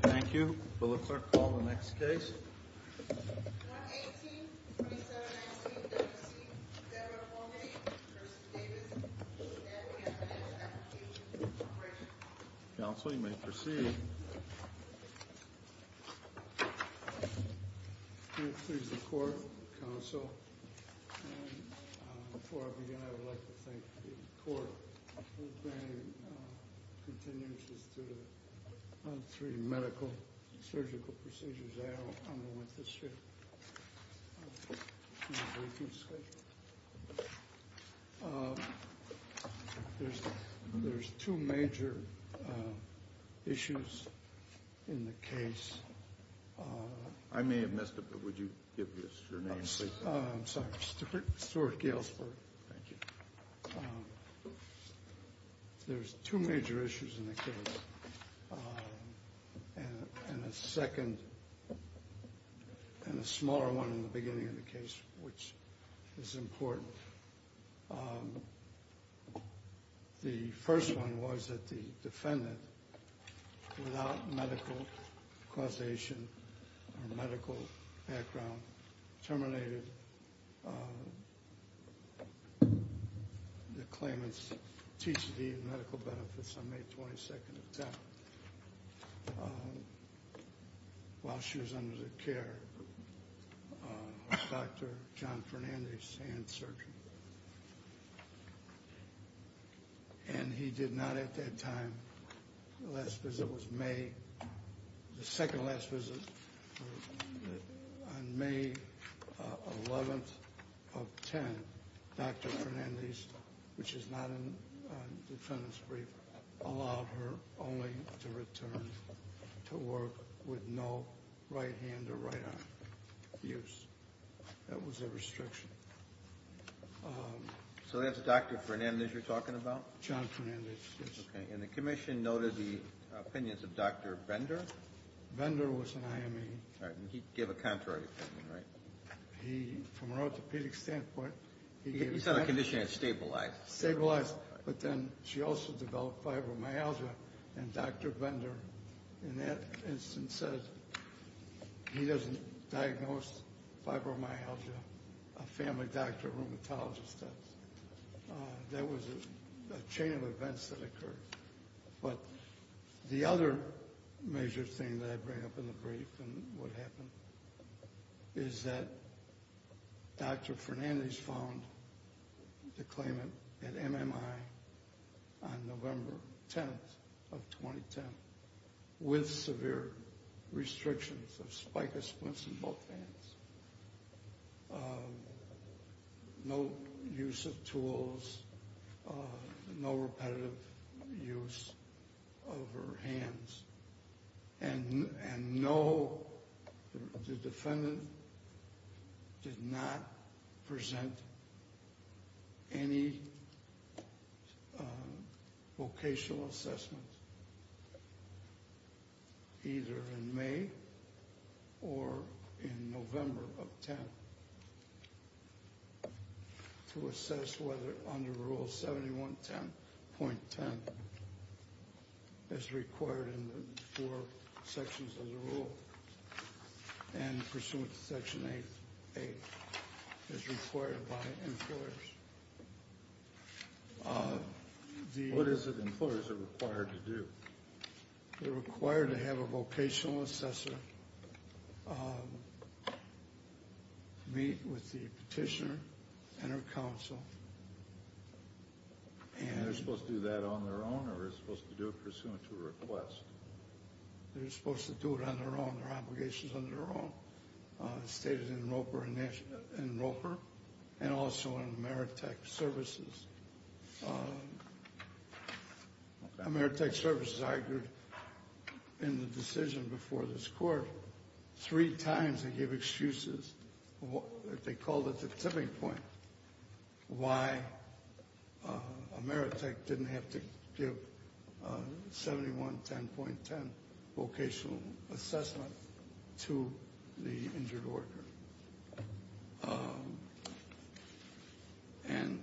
Thank you. Will the clerk call the next case? 118-27-19-WC. Senator Mulvaney. Kirsten Davis. Counsel, you may proceed. I'm pleased to report, Counsel, and before I begin I would like to thank the court for granting continuances to the three medical, surgical procedures I am on with this year. There's two major issues in the case. I may have missed it, but would you give your name, please? I'm sorry. Stuart Galesburg. Thank you. There's two major issues in the case, and a second and a smaller one in the beginning of the case, which is important. The first one was that the defendant, without medical causation or medical background, terminated the claimant's TCD and medical benefits on May 22nd of that while she was under the care of Dr. John Fernandez, hand surgeon. And he did not at that time. The last visit was May. The second to last visit on May 11th of 10, Dr. Fernandez, which is not in the defendant's brief, allowed her only to return to work with no right hand or right arm use. That was the restriction. So that's Dr. Fernandez you're talking about? John Fernandez, yes. Okay. And the commission noted the opinions of Dr. Bender? Bender was an IME. All right. And he gave a contrary opinion, right? He, from an orthopedic standpoint, he gave a contrary opinion. He said the condition had stabilized. Stabilized. But then she also developed fibromyalgia, and Dr. Bender, in that instance, said he doesn't diagnose fibromyalgia, a family doctor, a rheumatologist does. That was a chain of events that occurred. But the other major thing that I bring up in the brief and what happened is that Dr. Fernandez found the claimant at MMI on November 10th of 2010 with severe restrictions of spica splints in both hands. No use of tools, no repetitive use of her hands. And no, the defendant did not present any vocational assessment, either in May or in November of 10th, to assess whether under Rule 71.10, as required in the four sections of the rule, and pursuant to Section 8, as required by employers. What is it employers are required to do? They're required to have a vocational assessor meet with the petitioner and her counsel. And they're supposed to do that on their own, or they're supposed to do it pursuant to a request? They're supposed to do it on their own. Their obligation is on their own. It's stated in Roper and also in Ameritech services. Ameritech services argued in the decision before this court, three times they gave excuses, they called it the tipping point, why Ameritech didn't have to give 71.10 vocational assessment to the injured worker. And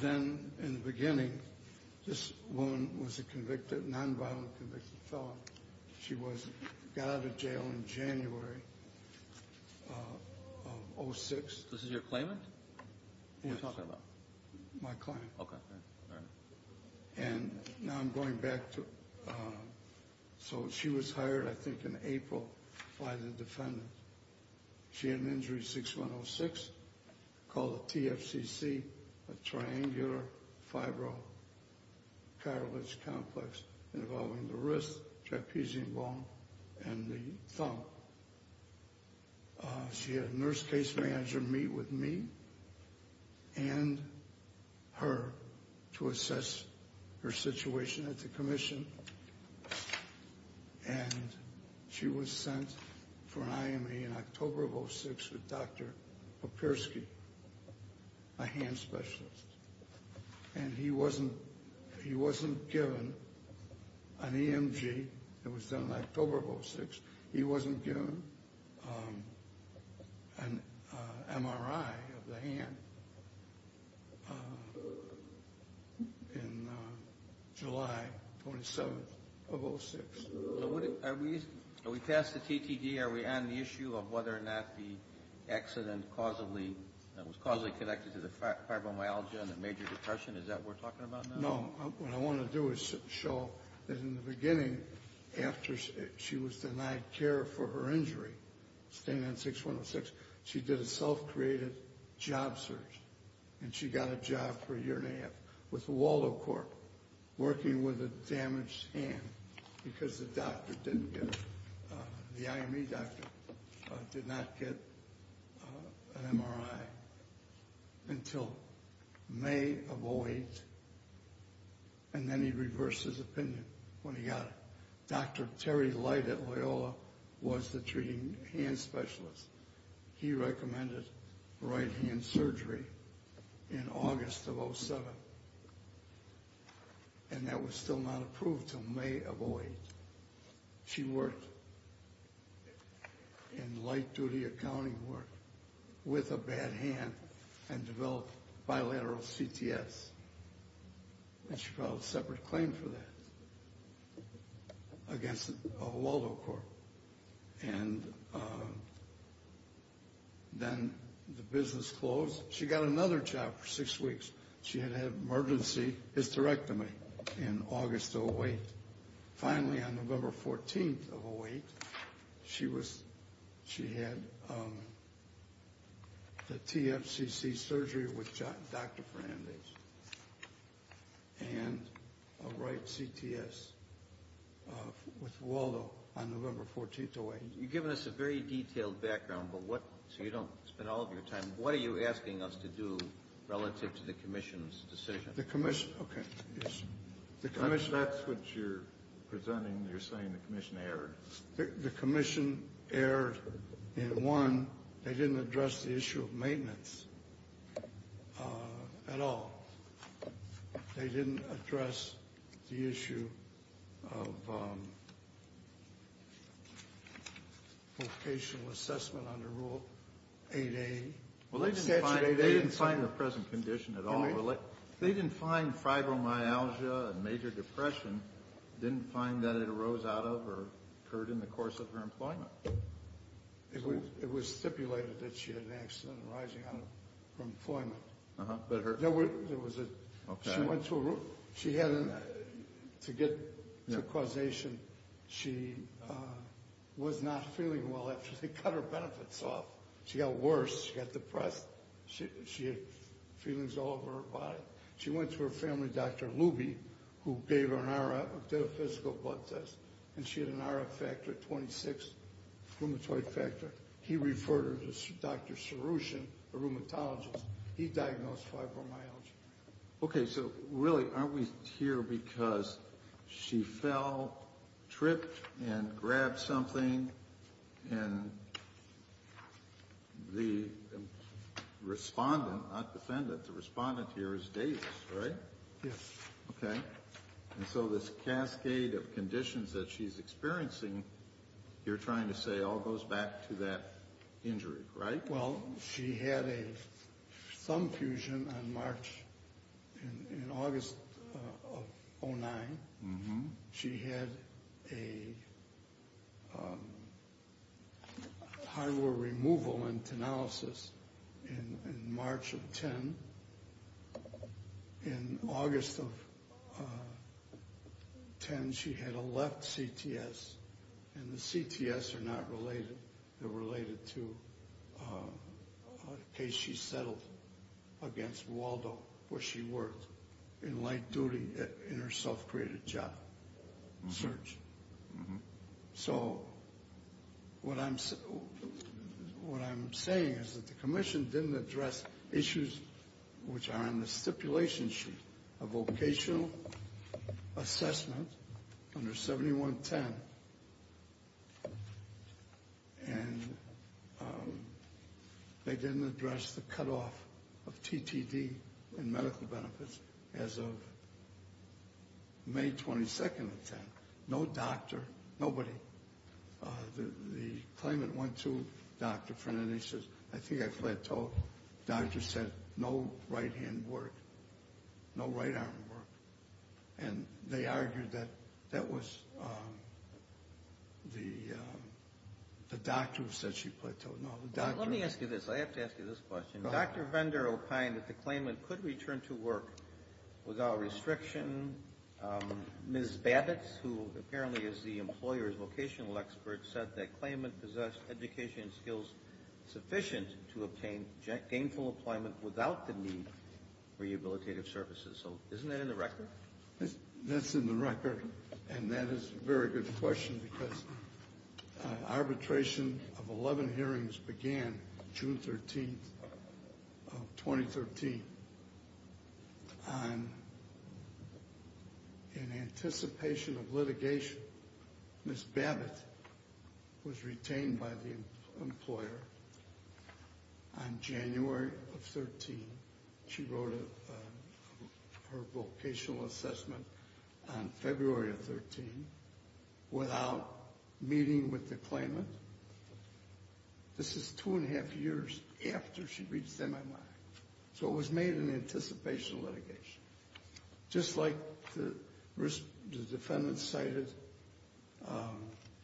then in the beginning, this woman was a convicted, non-violent convicted felon. She got out of jail in January of 06. This is your claimant? Yes. Who are you talking about? My client. Okay. All right. And now I'm going back to, so she was hired, I think, in April by the defendant. She had an injury, 6106, called a TFCC, a triangular fibro-catalytic complex, involving the wrist, trapezium bone, and the thumb. She had a nurse case manager meet with me and her to assess her situation at the commission. And she was sent for an IMA in October of 06 with Dr. Papirsky, a hand specialist. And he wasn't given an EMG. It was done in October of 06. He wasn't given an MRI of the hand in July 27th of 06. Are we past the TTD? Are we on the issue of whether or not the accident was causally connected to the fibromyalgia and the major depression? Is that what we're talking about now? No. What I want to do is show that in the beginning, after she was denied care for her injury, standing on 6106, she did a self-created job search, and she got a job for a year and a half with Waldo Corp. working with a damaged hand because the doctor didn't get it. The IME doctor did not get an MRI until May of 08, and then he reversed his opinion when he got it. Dr. Terry Light at Loyola was the treating hand specialist. He recommended right-hand surgery in August of 07, and that was still not approved until May of 08. She worked in light-duty accounting work with a bad hand and developed bilateral CTS, and she filed a separate claim for that against Waldo Corp. And then the business closed. She got another job for six weeks. She had an emergency hysterectomy in August of 08. Finally, on November 14 of 08, she had the TFCC surgery with Dr. Fernandez and a right CTS with Waldo on November 14 of 08. You've given us a very detailed background, so you don't spend all of your time. What are you asking us to do relative to the commission's decision? The commission — okay. That's what you're presenting. You're saying the commission erred. The commission erred in, one, they didn't address the issue of maintenance at all. They didn't address the issue of vocational assessment under Rule 8A. Well, they didn't find the present condition at all. They didn't find fibromyalgia and major depression. Didn't find that it arose out of or occurred in the course of her employment. It was stipulated that she had an accident arising out of her employment. Uh-huh, but her— There was a— Okay. She went to a room. She had to get to causation. She was not feeling well after they cut her benefits off. She got worse. She got depressed. She had feelings all over her body. She went to her family, Dr. Luby, who gave her an RF, did a physical blood test, and she had an RF factor of 26, rheumatoid factor. He referred her to Dr. Soroushan, a rheumatologist. He diagnosed fibromyalgia. Okay, so really aren't we here because she fell, tripped, and grabbed something, and the respondent, not defendant, the respondent here is Davis, right? Yes. Okay. And so this cascade of conditions that she's experiencing, you're trying to say, all goes back to that injury, right? Well, she had a thumb fusion on March—in August of 2009. She had a hardware removal and tenalysis in March of 2010. In August of 2010, she had a left CTS, and the CTS are not related, they're related to a case she settled against Waldo, where she worked in light duty in her self-created job search. So what I'm saying is that the commission didn't address issues which are in the stipulation sheet, a vocational assessment under 7110, and they didn't address the cutoff of TTD and medical benefits as of May 22nd of 2010. No doctor, nobody. The claimant went to Dr. Fernandez and says, I think I plateaued. The doctor said, no right hand work, no right arm work. And they argued that that was the doctor who said she plateaued. Now, the doctor— Let me ask you this. I have to ask you this question. Dr. Vendor opined that the claimant could return to work without restriction. Ms. Babitz, who apparently is the employer's vocational expert, said that claimant possessed education skills sufficient to obtain gainful employment without the need for rehabilitative services. So isn't that in the record? That's in the record, and that is a very good question because arbitration of 11 hearings began June 13th of 2013. In anticipation of litigation, Ms. Babitz was retained by the employer on January 13th. She wrote her vocational assessment on February 13th without meeting with the claimant. This is two and a half years after she reached MMI. So it was made in anticipation of litigation. Just like the defendant cited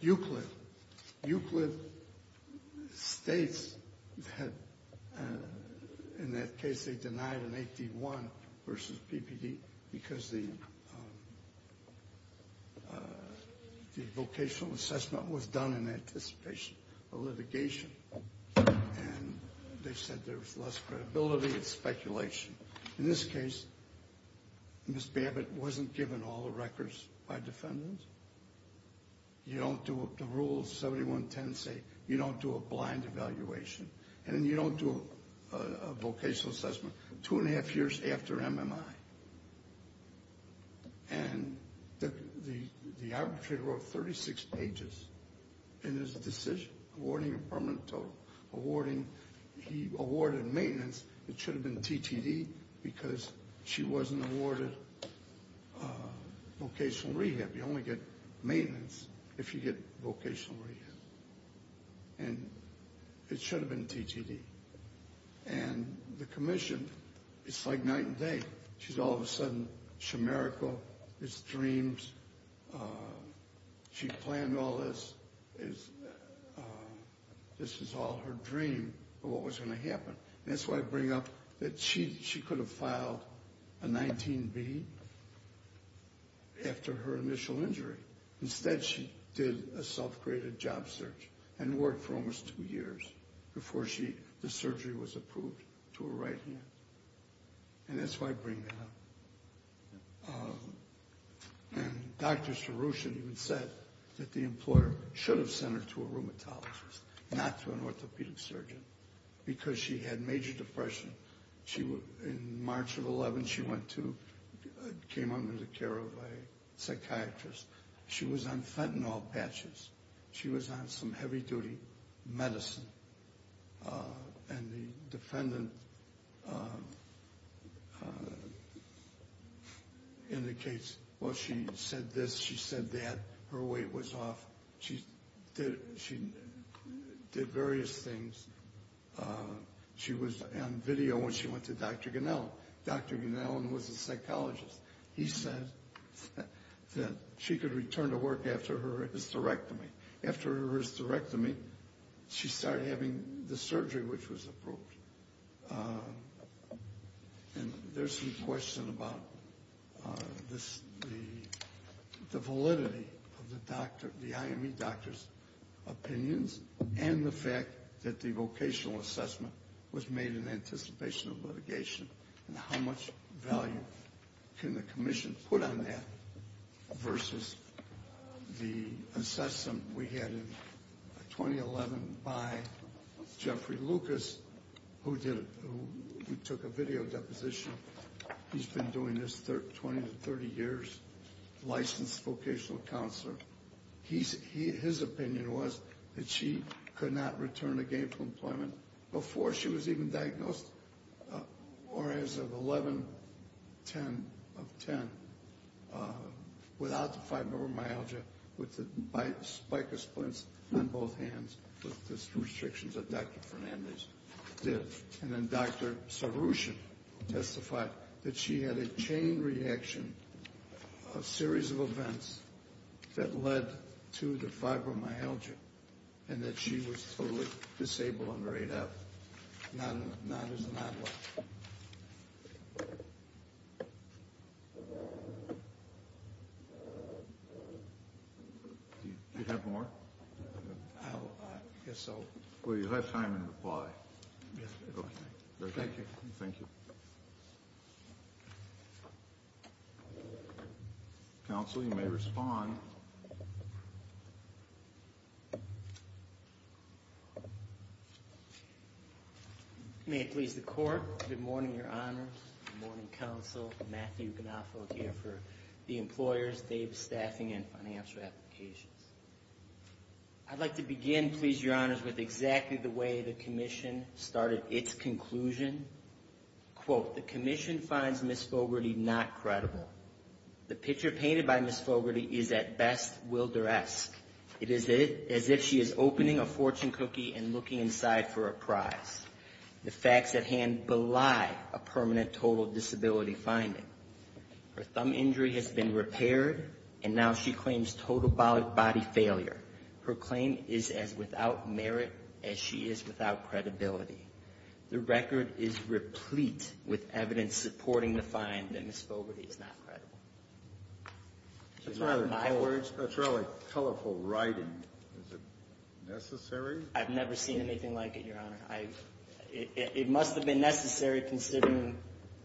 Euclid, Euclid states had— in that case, they denied an 8D1 versus PPD because the vocational assessment was done in anticipation of litigation. And they said there was less credibility, it's speculation. In this case, Ms. Babitz wasn't given all the records by defendants. The rules 7110 say you don't do a blind evaluation, and you don't do a vocational assessment two and a half years after MMI. And the arbitrator wrote 36 pages in his decision, awarding a permanent total. He awarded maintenance. It should have been TTD because she wasn't awarded vocational rehab. You only get maintenance if you get vocational rehab. And it should have been TTD. And the commission, it's like night and day. She's all of a sudden shemerical. It's dreams. She planned all this. This was all her dream of what was going to happen. That's why I bring up that she could have filed a 19B after her initial injury. Instead, she did a self-created job search and worked for almost two years before the surgery was approved to her right hand. And that's why I bring that up. And Dr. Sarooshan even said that the employer should have sent her to a rheumatologist, not to an orthopedic surgeon, because she had major depression. In March of 2011, she came under the care of a psychiatrist. She was on fentanyl patches. She was on some heavy-duty medicine. And the defendant indicates, well, she said this, she said that. Her weight was off. She did various things. She was on video when she went to Dr. Gunnell. Dr. Gunnell was a psychologist. He said that she could return to work after her hysterectomy. After her hysterectomy, she started having the surgery, which was approved. And there's some question about the validity of the IME doctor's opinions and the fact that the vocational assessment was made in anticipation of litigation and how much value can the commission put on that versus the assessment we had in 2011 by Jeffrey Lucas, who took a video deposition. He's been doing this 20 to 30 years, licensed vocational counselor. His opinion was that she could not return again to employment before she was even diagnosed, or as of 11-10-10, without the fibromyalgia, with the spiker splints on both hands with the restrictions that Dr. Fernandez did. And then Dr. Sarooshan testified that she had a chain reaction, a series of events that led to the fibromyalgia and that she was totally disabled under 8F, not as an adult. Do you have more? I guess so. Well, you'll have time to reply. Okay. Thank you. Thank you. Counsel, you may respond. May it please the Court, good morning, Your Honors. Good morning, Counsel. Matthew Ganoffo here for the Employers, Davis Staffing and Financial Applications. I'd like to begin, please, Your Honors, with exactly the way the Commission started its conclusion. Quote, the Commission finds Ms. Fogarty not credible. The picture painted by Ms. Fogarty is at best Wilder-esque. It is as if she is opening a fortune cookie and looking inside for a prize. The facts at hand belie a permanent total disability finding. Her thumb injury has been repaired, and now she claims total body failure. Her claim is as without merit as she is without credibility. The record is replete with evidence supporting the find that Ms. Fogarty is not credible. That's rather colorful writing. Is it necessary? I've never seen anything like it, Your Honor. It must have been necessary considering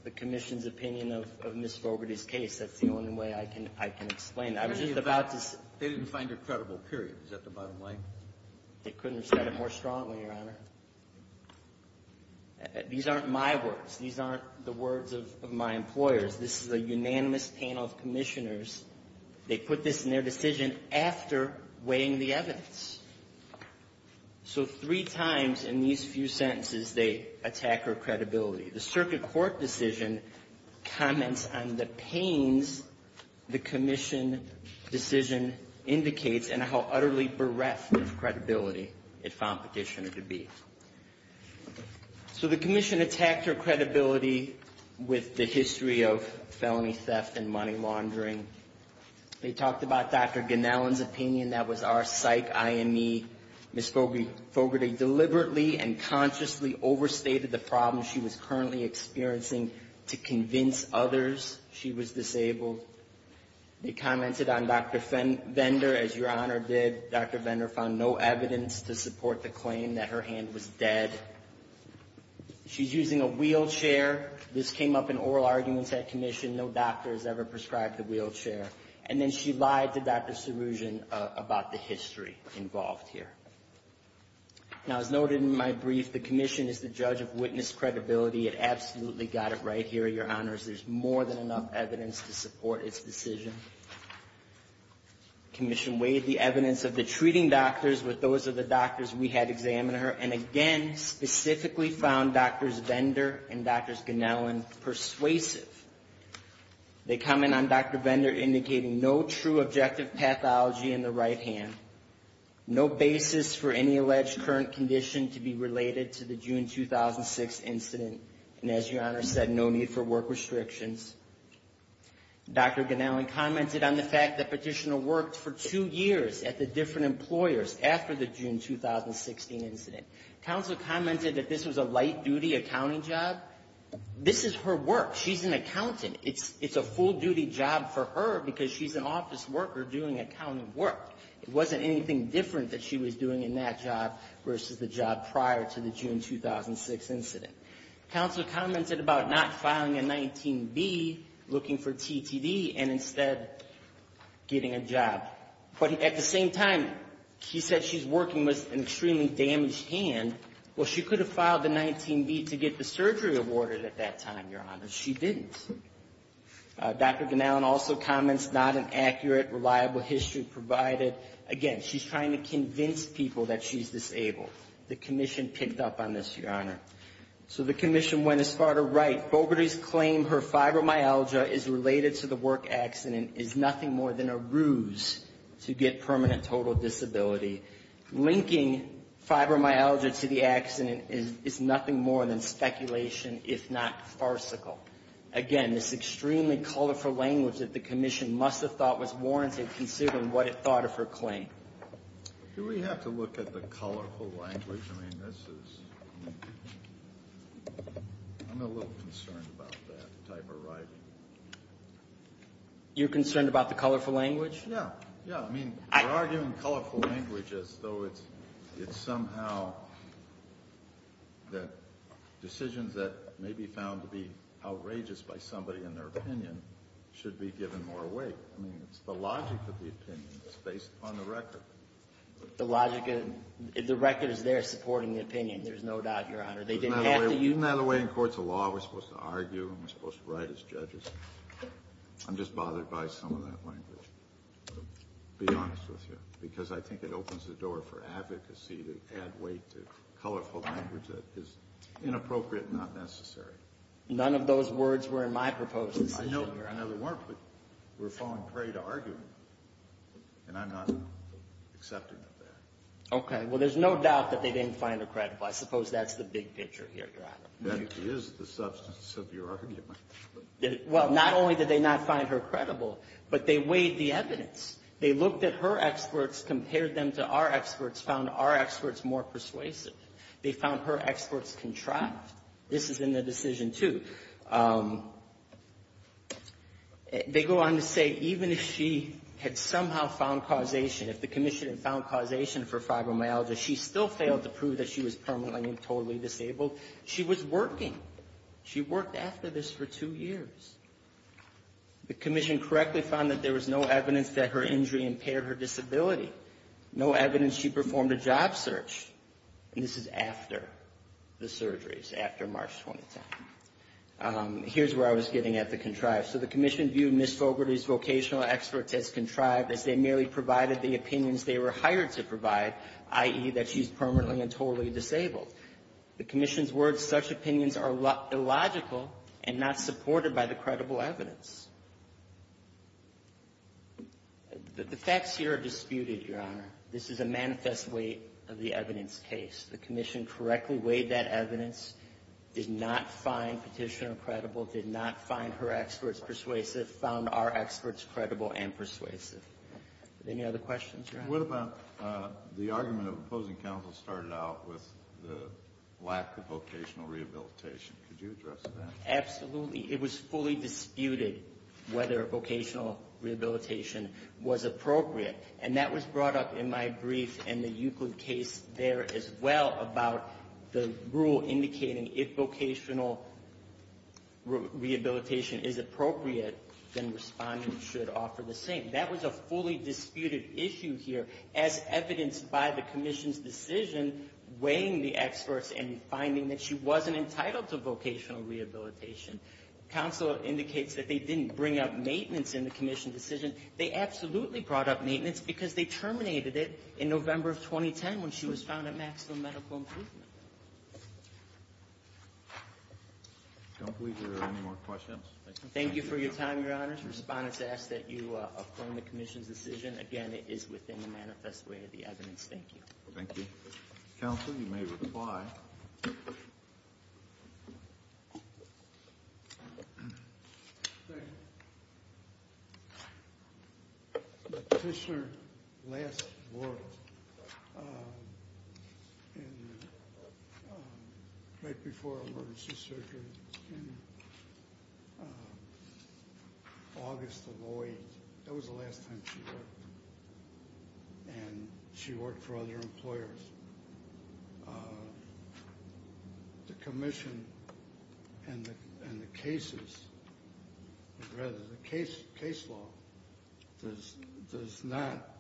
the Commission's opinion of Ms. Fogarty's case. That's the only way I can explain it. They didn't find her credible, period. Is that the bottom line? They couldn't have said it more strongly, Your Honor. These aren't my words. These aren't the words of my employers. This is a unanimous panel of Commissioners. They put this in their decision after weighing the evidence. So three times in these few sentences they attack her credibility. The Circuit Court decision comments on the pains the Commission decision indicates and how utterly bereft of credibility it found Petitioner to be. So the Commission attacked her credibility with the history of felony theft and money laundering. They talked about Dr. Ganellan's opinion. That was our psych IME. Ms. Fogarty deliberately and consciously overstated the problems she was currently experiencing to convince others she was disabled. They commented on Dr. Vendor, as Your Honor did. Dr. Vendor found no evidence to support the claim that her hand was dead. She's using a wheelchair. This came up in oral arguments at Commission. No doctor has ever prescribed a wheelchair. And then she lied to Dr. Serugian about the history involved here. Now, as noted in my brief, the Commission is the judge of witness credibility. It absolutely got it right here, Your Honors. There's more than enough evidence to support its decision. Commission weighed the evidence of the treating doctors with those of the doctors we had examine her and, again, specifically found Drs. Vendor and Drs. Ganellan persuasive. They comment on Dr. Vendor indicating no true objective pathology in the right hand. No basis for any alleged current condition to be related to the June 2006 incident. And, as Your Honor said, no need for work restrictions. Dr. Ganellan commented on the fact that Petitioner worked for two years at the different employers after the June 2016 incident. Counsel commented that this was a light-duty accounting job. This is her work. She's an accountant. It's a full-duty job for her because she's an office worker doing accounting work. It wasn't anything different that she was doing in that job versus the job prior to the June 2006 incident. Counsel commented about not filing a 19B, looking for TTD, and instead getting a job. But at the same time, she said she's working with an extremely damaged hand. Well, she could have filed a 19B to get the surgery awarded at that time, Your Honor. She didn't. Dr. Ganellan also comments not an accurate, reliable history provided. Again, she's trying to convince people that she's disabled. The commission picked up on this, Your Honor. So the commission went as far to write, Boberty's claim her fibromyalgia is related to the work accident is nothing more than a ruse to get permanent total disability. Linking fibromyalgia to the accident is nothing more than speculation, if not farcical. Again, this extremely colorful language that the commission must have thought was warranted, considering what it thought of her claim. Do we have to look at the colorful language? I mean, this is – I'm a little concerned about that type of writing. You're concerned about the colorful language? Yeah. Yeah, I mean, we're arguing colorful language as though it's somehow the decisions that may be found to be outrageous by somebody in their opinion should be given more weight. I mean, it's the logic of the opinion. It's based upon the record. The logic – the record is there supporting the opinion. There's no doubt, Your Honor. They didn't have to use – Isn't that the way in courts of law we're supposed to argue and we're supposed to write as judges? I'm just bothered by some of that language, to be honest with you, because I think it opens the door for advocacy to add weight to colorful language that is inappropriate and not necessary. None of those words were in my proposed decision, Your Honor. I know they weren't, but we're falling prey to argument, and I'm not accepting of that. Okay. Well, there's no doubt that they didn't find it credible. I suppose that's the big picture here, Your Honor. That is the substance of your argument. Well, not only did they not find her credible, but they weighed the evidence. They looked at her experts, compared them to our experts, found our experts more persuasive. They found her experts contrived. This is in the decision, too. They go on to say, even if she had somehow found causation, if the commission had found causation for fibromyalgia, she still failed to prove that she was permanently and totally disabled. She was working. She worked after this for two years. The commission correctly found that there was no evidence that her injury impaired her disability, no evidence she performed a job search. And this is after the surgeries, after March 2010. Here's where I was getting at the contrived. So the commission viewed Ms. Fogarty's vocational experts as contrived, as they merely provided the opinions they were hired to provide, i.e., that she's permanently and totally disabled. The commission's words, such opinions are illogical and not supported by the credible evidence. The facts here are disputed, Your Honor. This is a manifest weight of the evidence case. The commission correctly weighed that evidence, did not find Petitioner credible, did not find her experts persuasive, found our experts credible and persuasive. Any other questions, Your Honor? The argument of opposing counsel started out with the lack of vocational rehabilitation. Could you address that? Absolutely. It was fully disputed whether vocational rehabilitation was appropriate. And that was brought up in my brief and the Euclid case there as well about the rule indicating if vocational rehabilitation is appropriate, then respondents should offer the same. That was a fully disputed issue here as evidenced by the commission's decision weighing the experts and finding that she wasn't entitled to vocational rehabilitation. Counsel indicates that they didn't bring up maintenance in the commission decision. They absolutely brought up maintenance because they terminated it in November of 2010 when she was found at maximum medical improvement. I don't believe there are any more questions. Thank you for your time, Your Honor. Respondents ask that you affirm the commission's decision. Again, it is within the manifest way of the evidence. Thank you. Thank you. Counsel, you may reply. Thank you. The petitioner last worked right before emergency surgery in August of 2008. That was the last time she worked. And she worked for other employers. The commission and the cases, or rather the case law, does not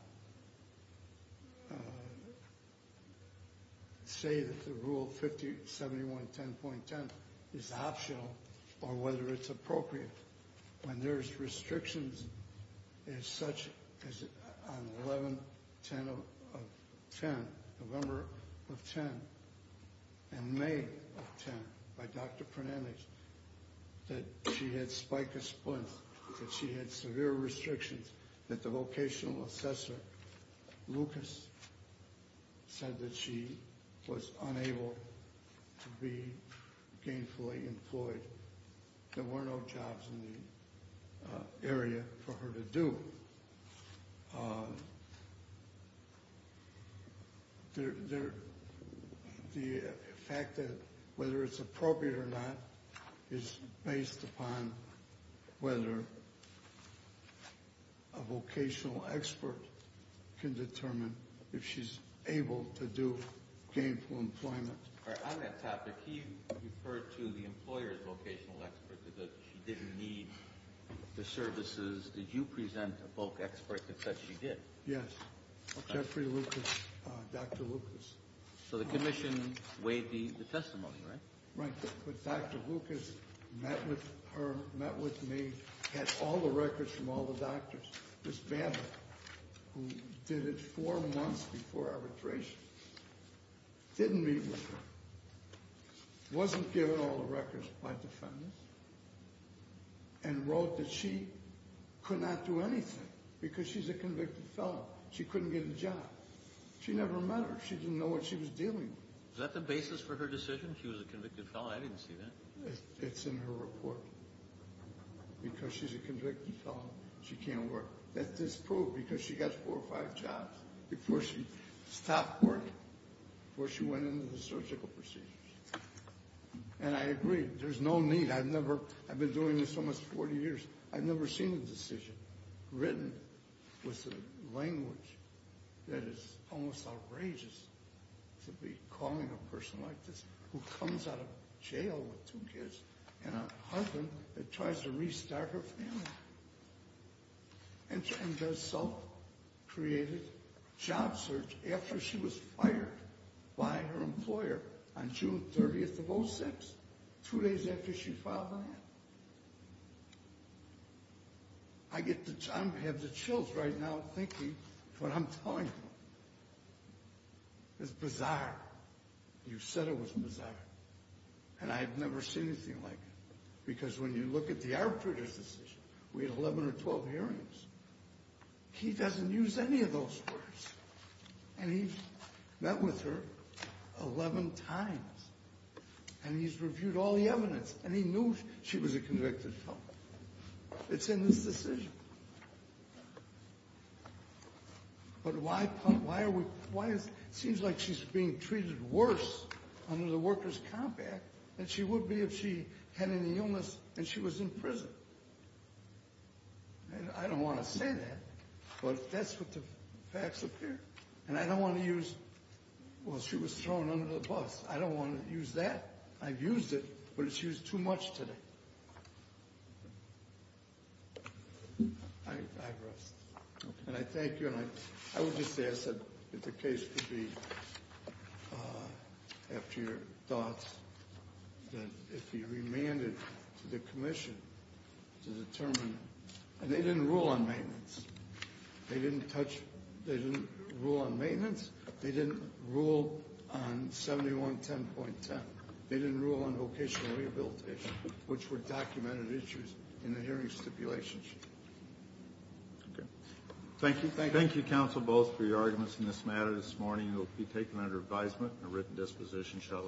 say that the rule 5071.10.10 is optional or whether it's appropriate. When there's restrictions as such on 11-10-10, November of 10, and May of 10 by Dr. Prenendix, that she had spica splints, that she had severe restrictions, that the vocational assessor, Lucas, said that she was unable to be gainfully employed. There were no jobs in the area for her to do. The fact that whether it's appropriate or not is based upon whether a vocational expert can determine if she's able to do gainful employment. On that topic, he referred to the employer's vocational expert, that she didn't need the services. Did you present a voc expert that said she did? Yes. Jeffrey Lucas, Dr. Lucas. So the commission weighed the testimony, right? Right. But Dr. Lucas met with her, met with me, had all the records from all the doctors. Ms. Babbitt, who did it four months before arbitration, didn't meet with her, wasn't given all the records by defendants, and wrote that she could not do anything because she's a convicted felon. She couldn't get a job. She never met her. She didn't know what she was dealing with. Is that the basis for her decision? She was a convicted felon. I didn't see that. It's in her report. Because she's a convicted felon, she can't work. That's disproved because she got four or five jobs before she stopped working, before she went into the surgical procedures. And I agree. There's no need. I've been doing this almost 40 years. I've never seen a decision written with a language that is almost outrageous to be calling a person like this, who comes out of jail with two kids, and a husband that tries to restart her family, and does self-created job search after she was fired by her employer on June 30th of 06, two days after she filed that. I have the chills right now thinking what I'm telling you. It's bizarre. You said it was bizarre. And I've never seen anything like it. Because when you look at the arbitrator's decision, we had 11 or 12 hearings. He doesn't use any of those words. And he's met with her 11 times. And he's reviewed all the evidence. And he knew she was a convicted felon. It's in this decision. But why is it seems like she's being treated worse under the Workers' Comp Act than she would be if she had any illness and she was in prison. I don't want to say that. But that's what the facts appear. And I don't want to use, well, she was thrown under the bus. I don't want to use that. I've used it, but it's used too much today. I rest. And I thank you. And I would just ask that the case could be, after your thoughts, that it be remanded to the commission to determine. And they didn't rule on maintenance. They didn't touch. They didn't rule on maintenance. They didn't rule on 7110.10. They didn't rule on vocational rehabilitation, which were documented issues in the hearing stipulations. Okay. Thank you. Thank you, counsel, both, for your arguments in this matter this morning. It will be taken under advisement and a written disposition shortly.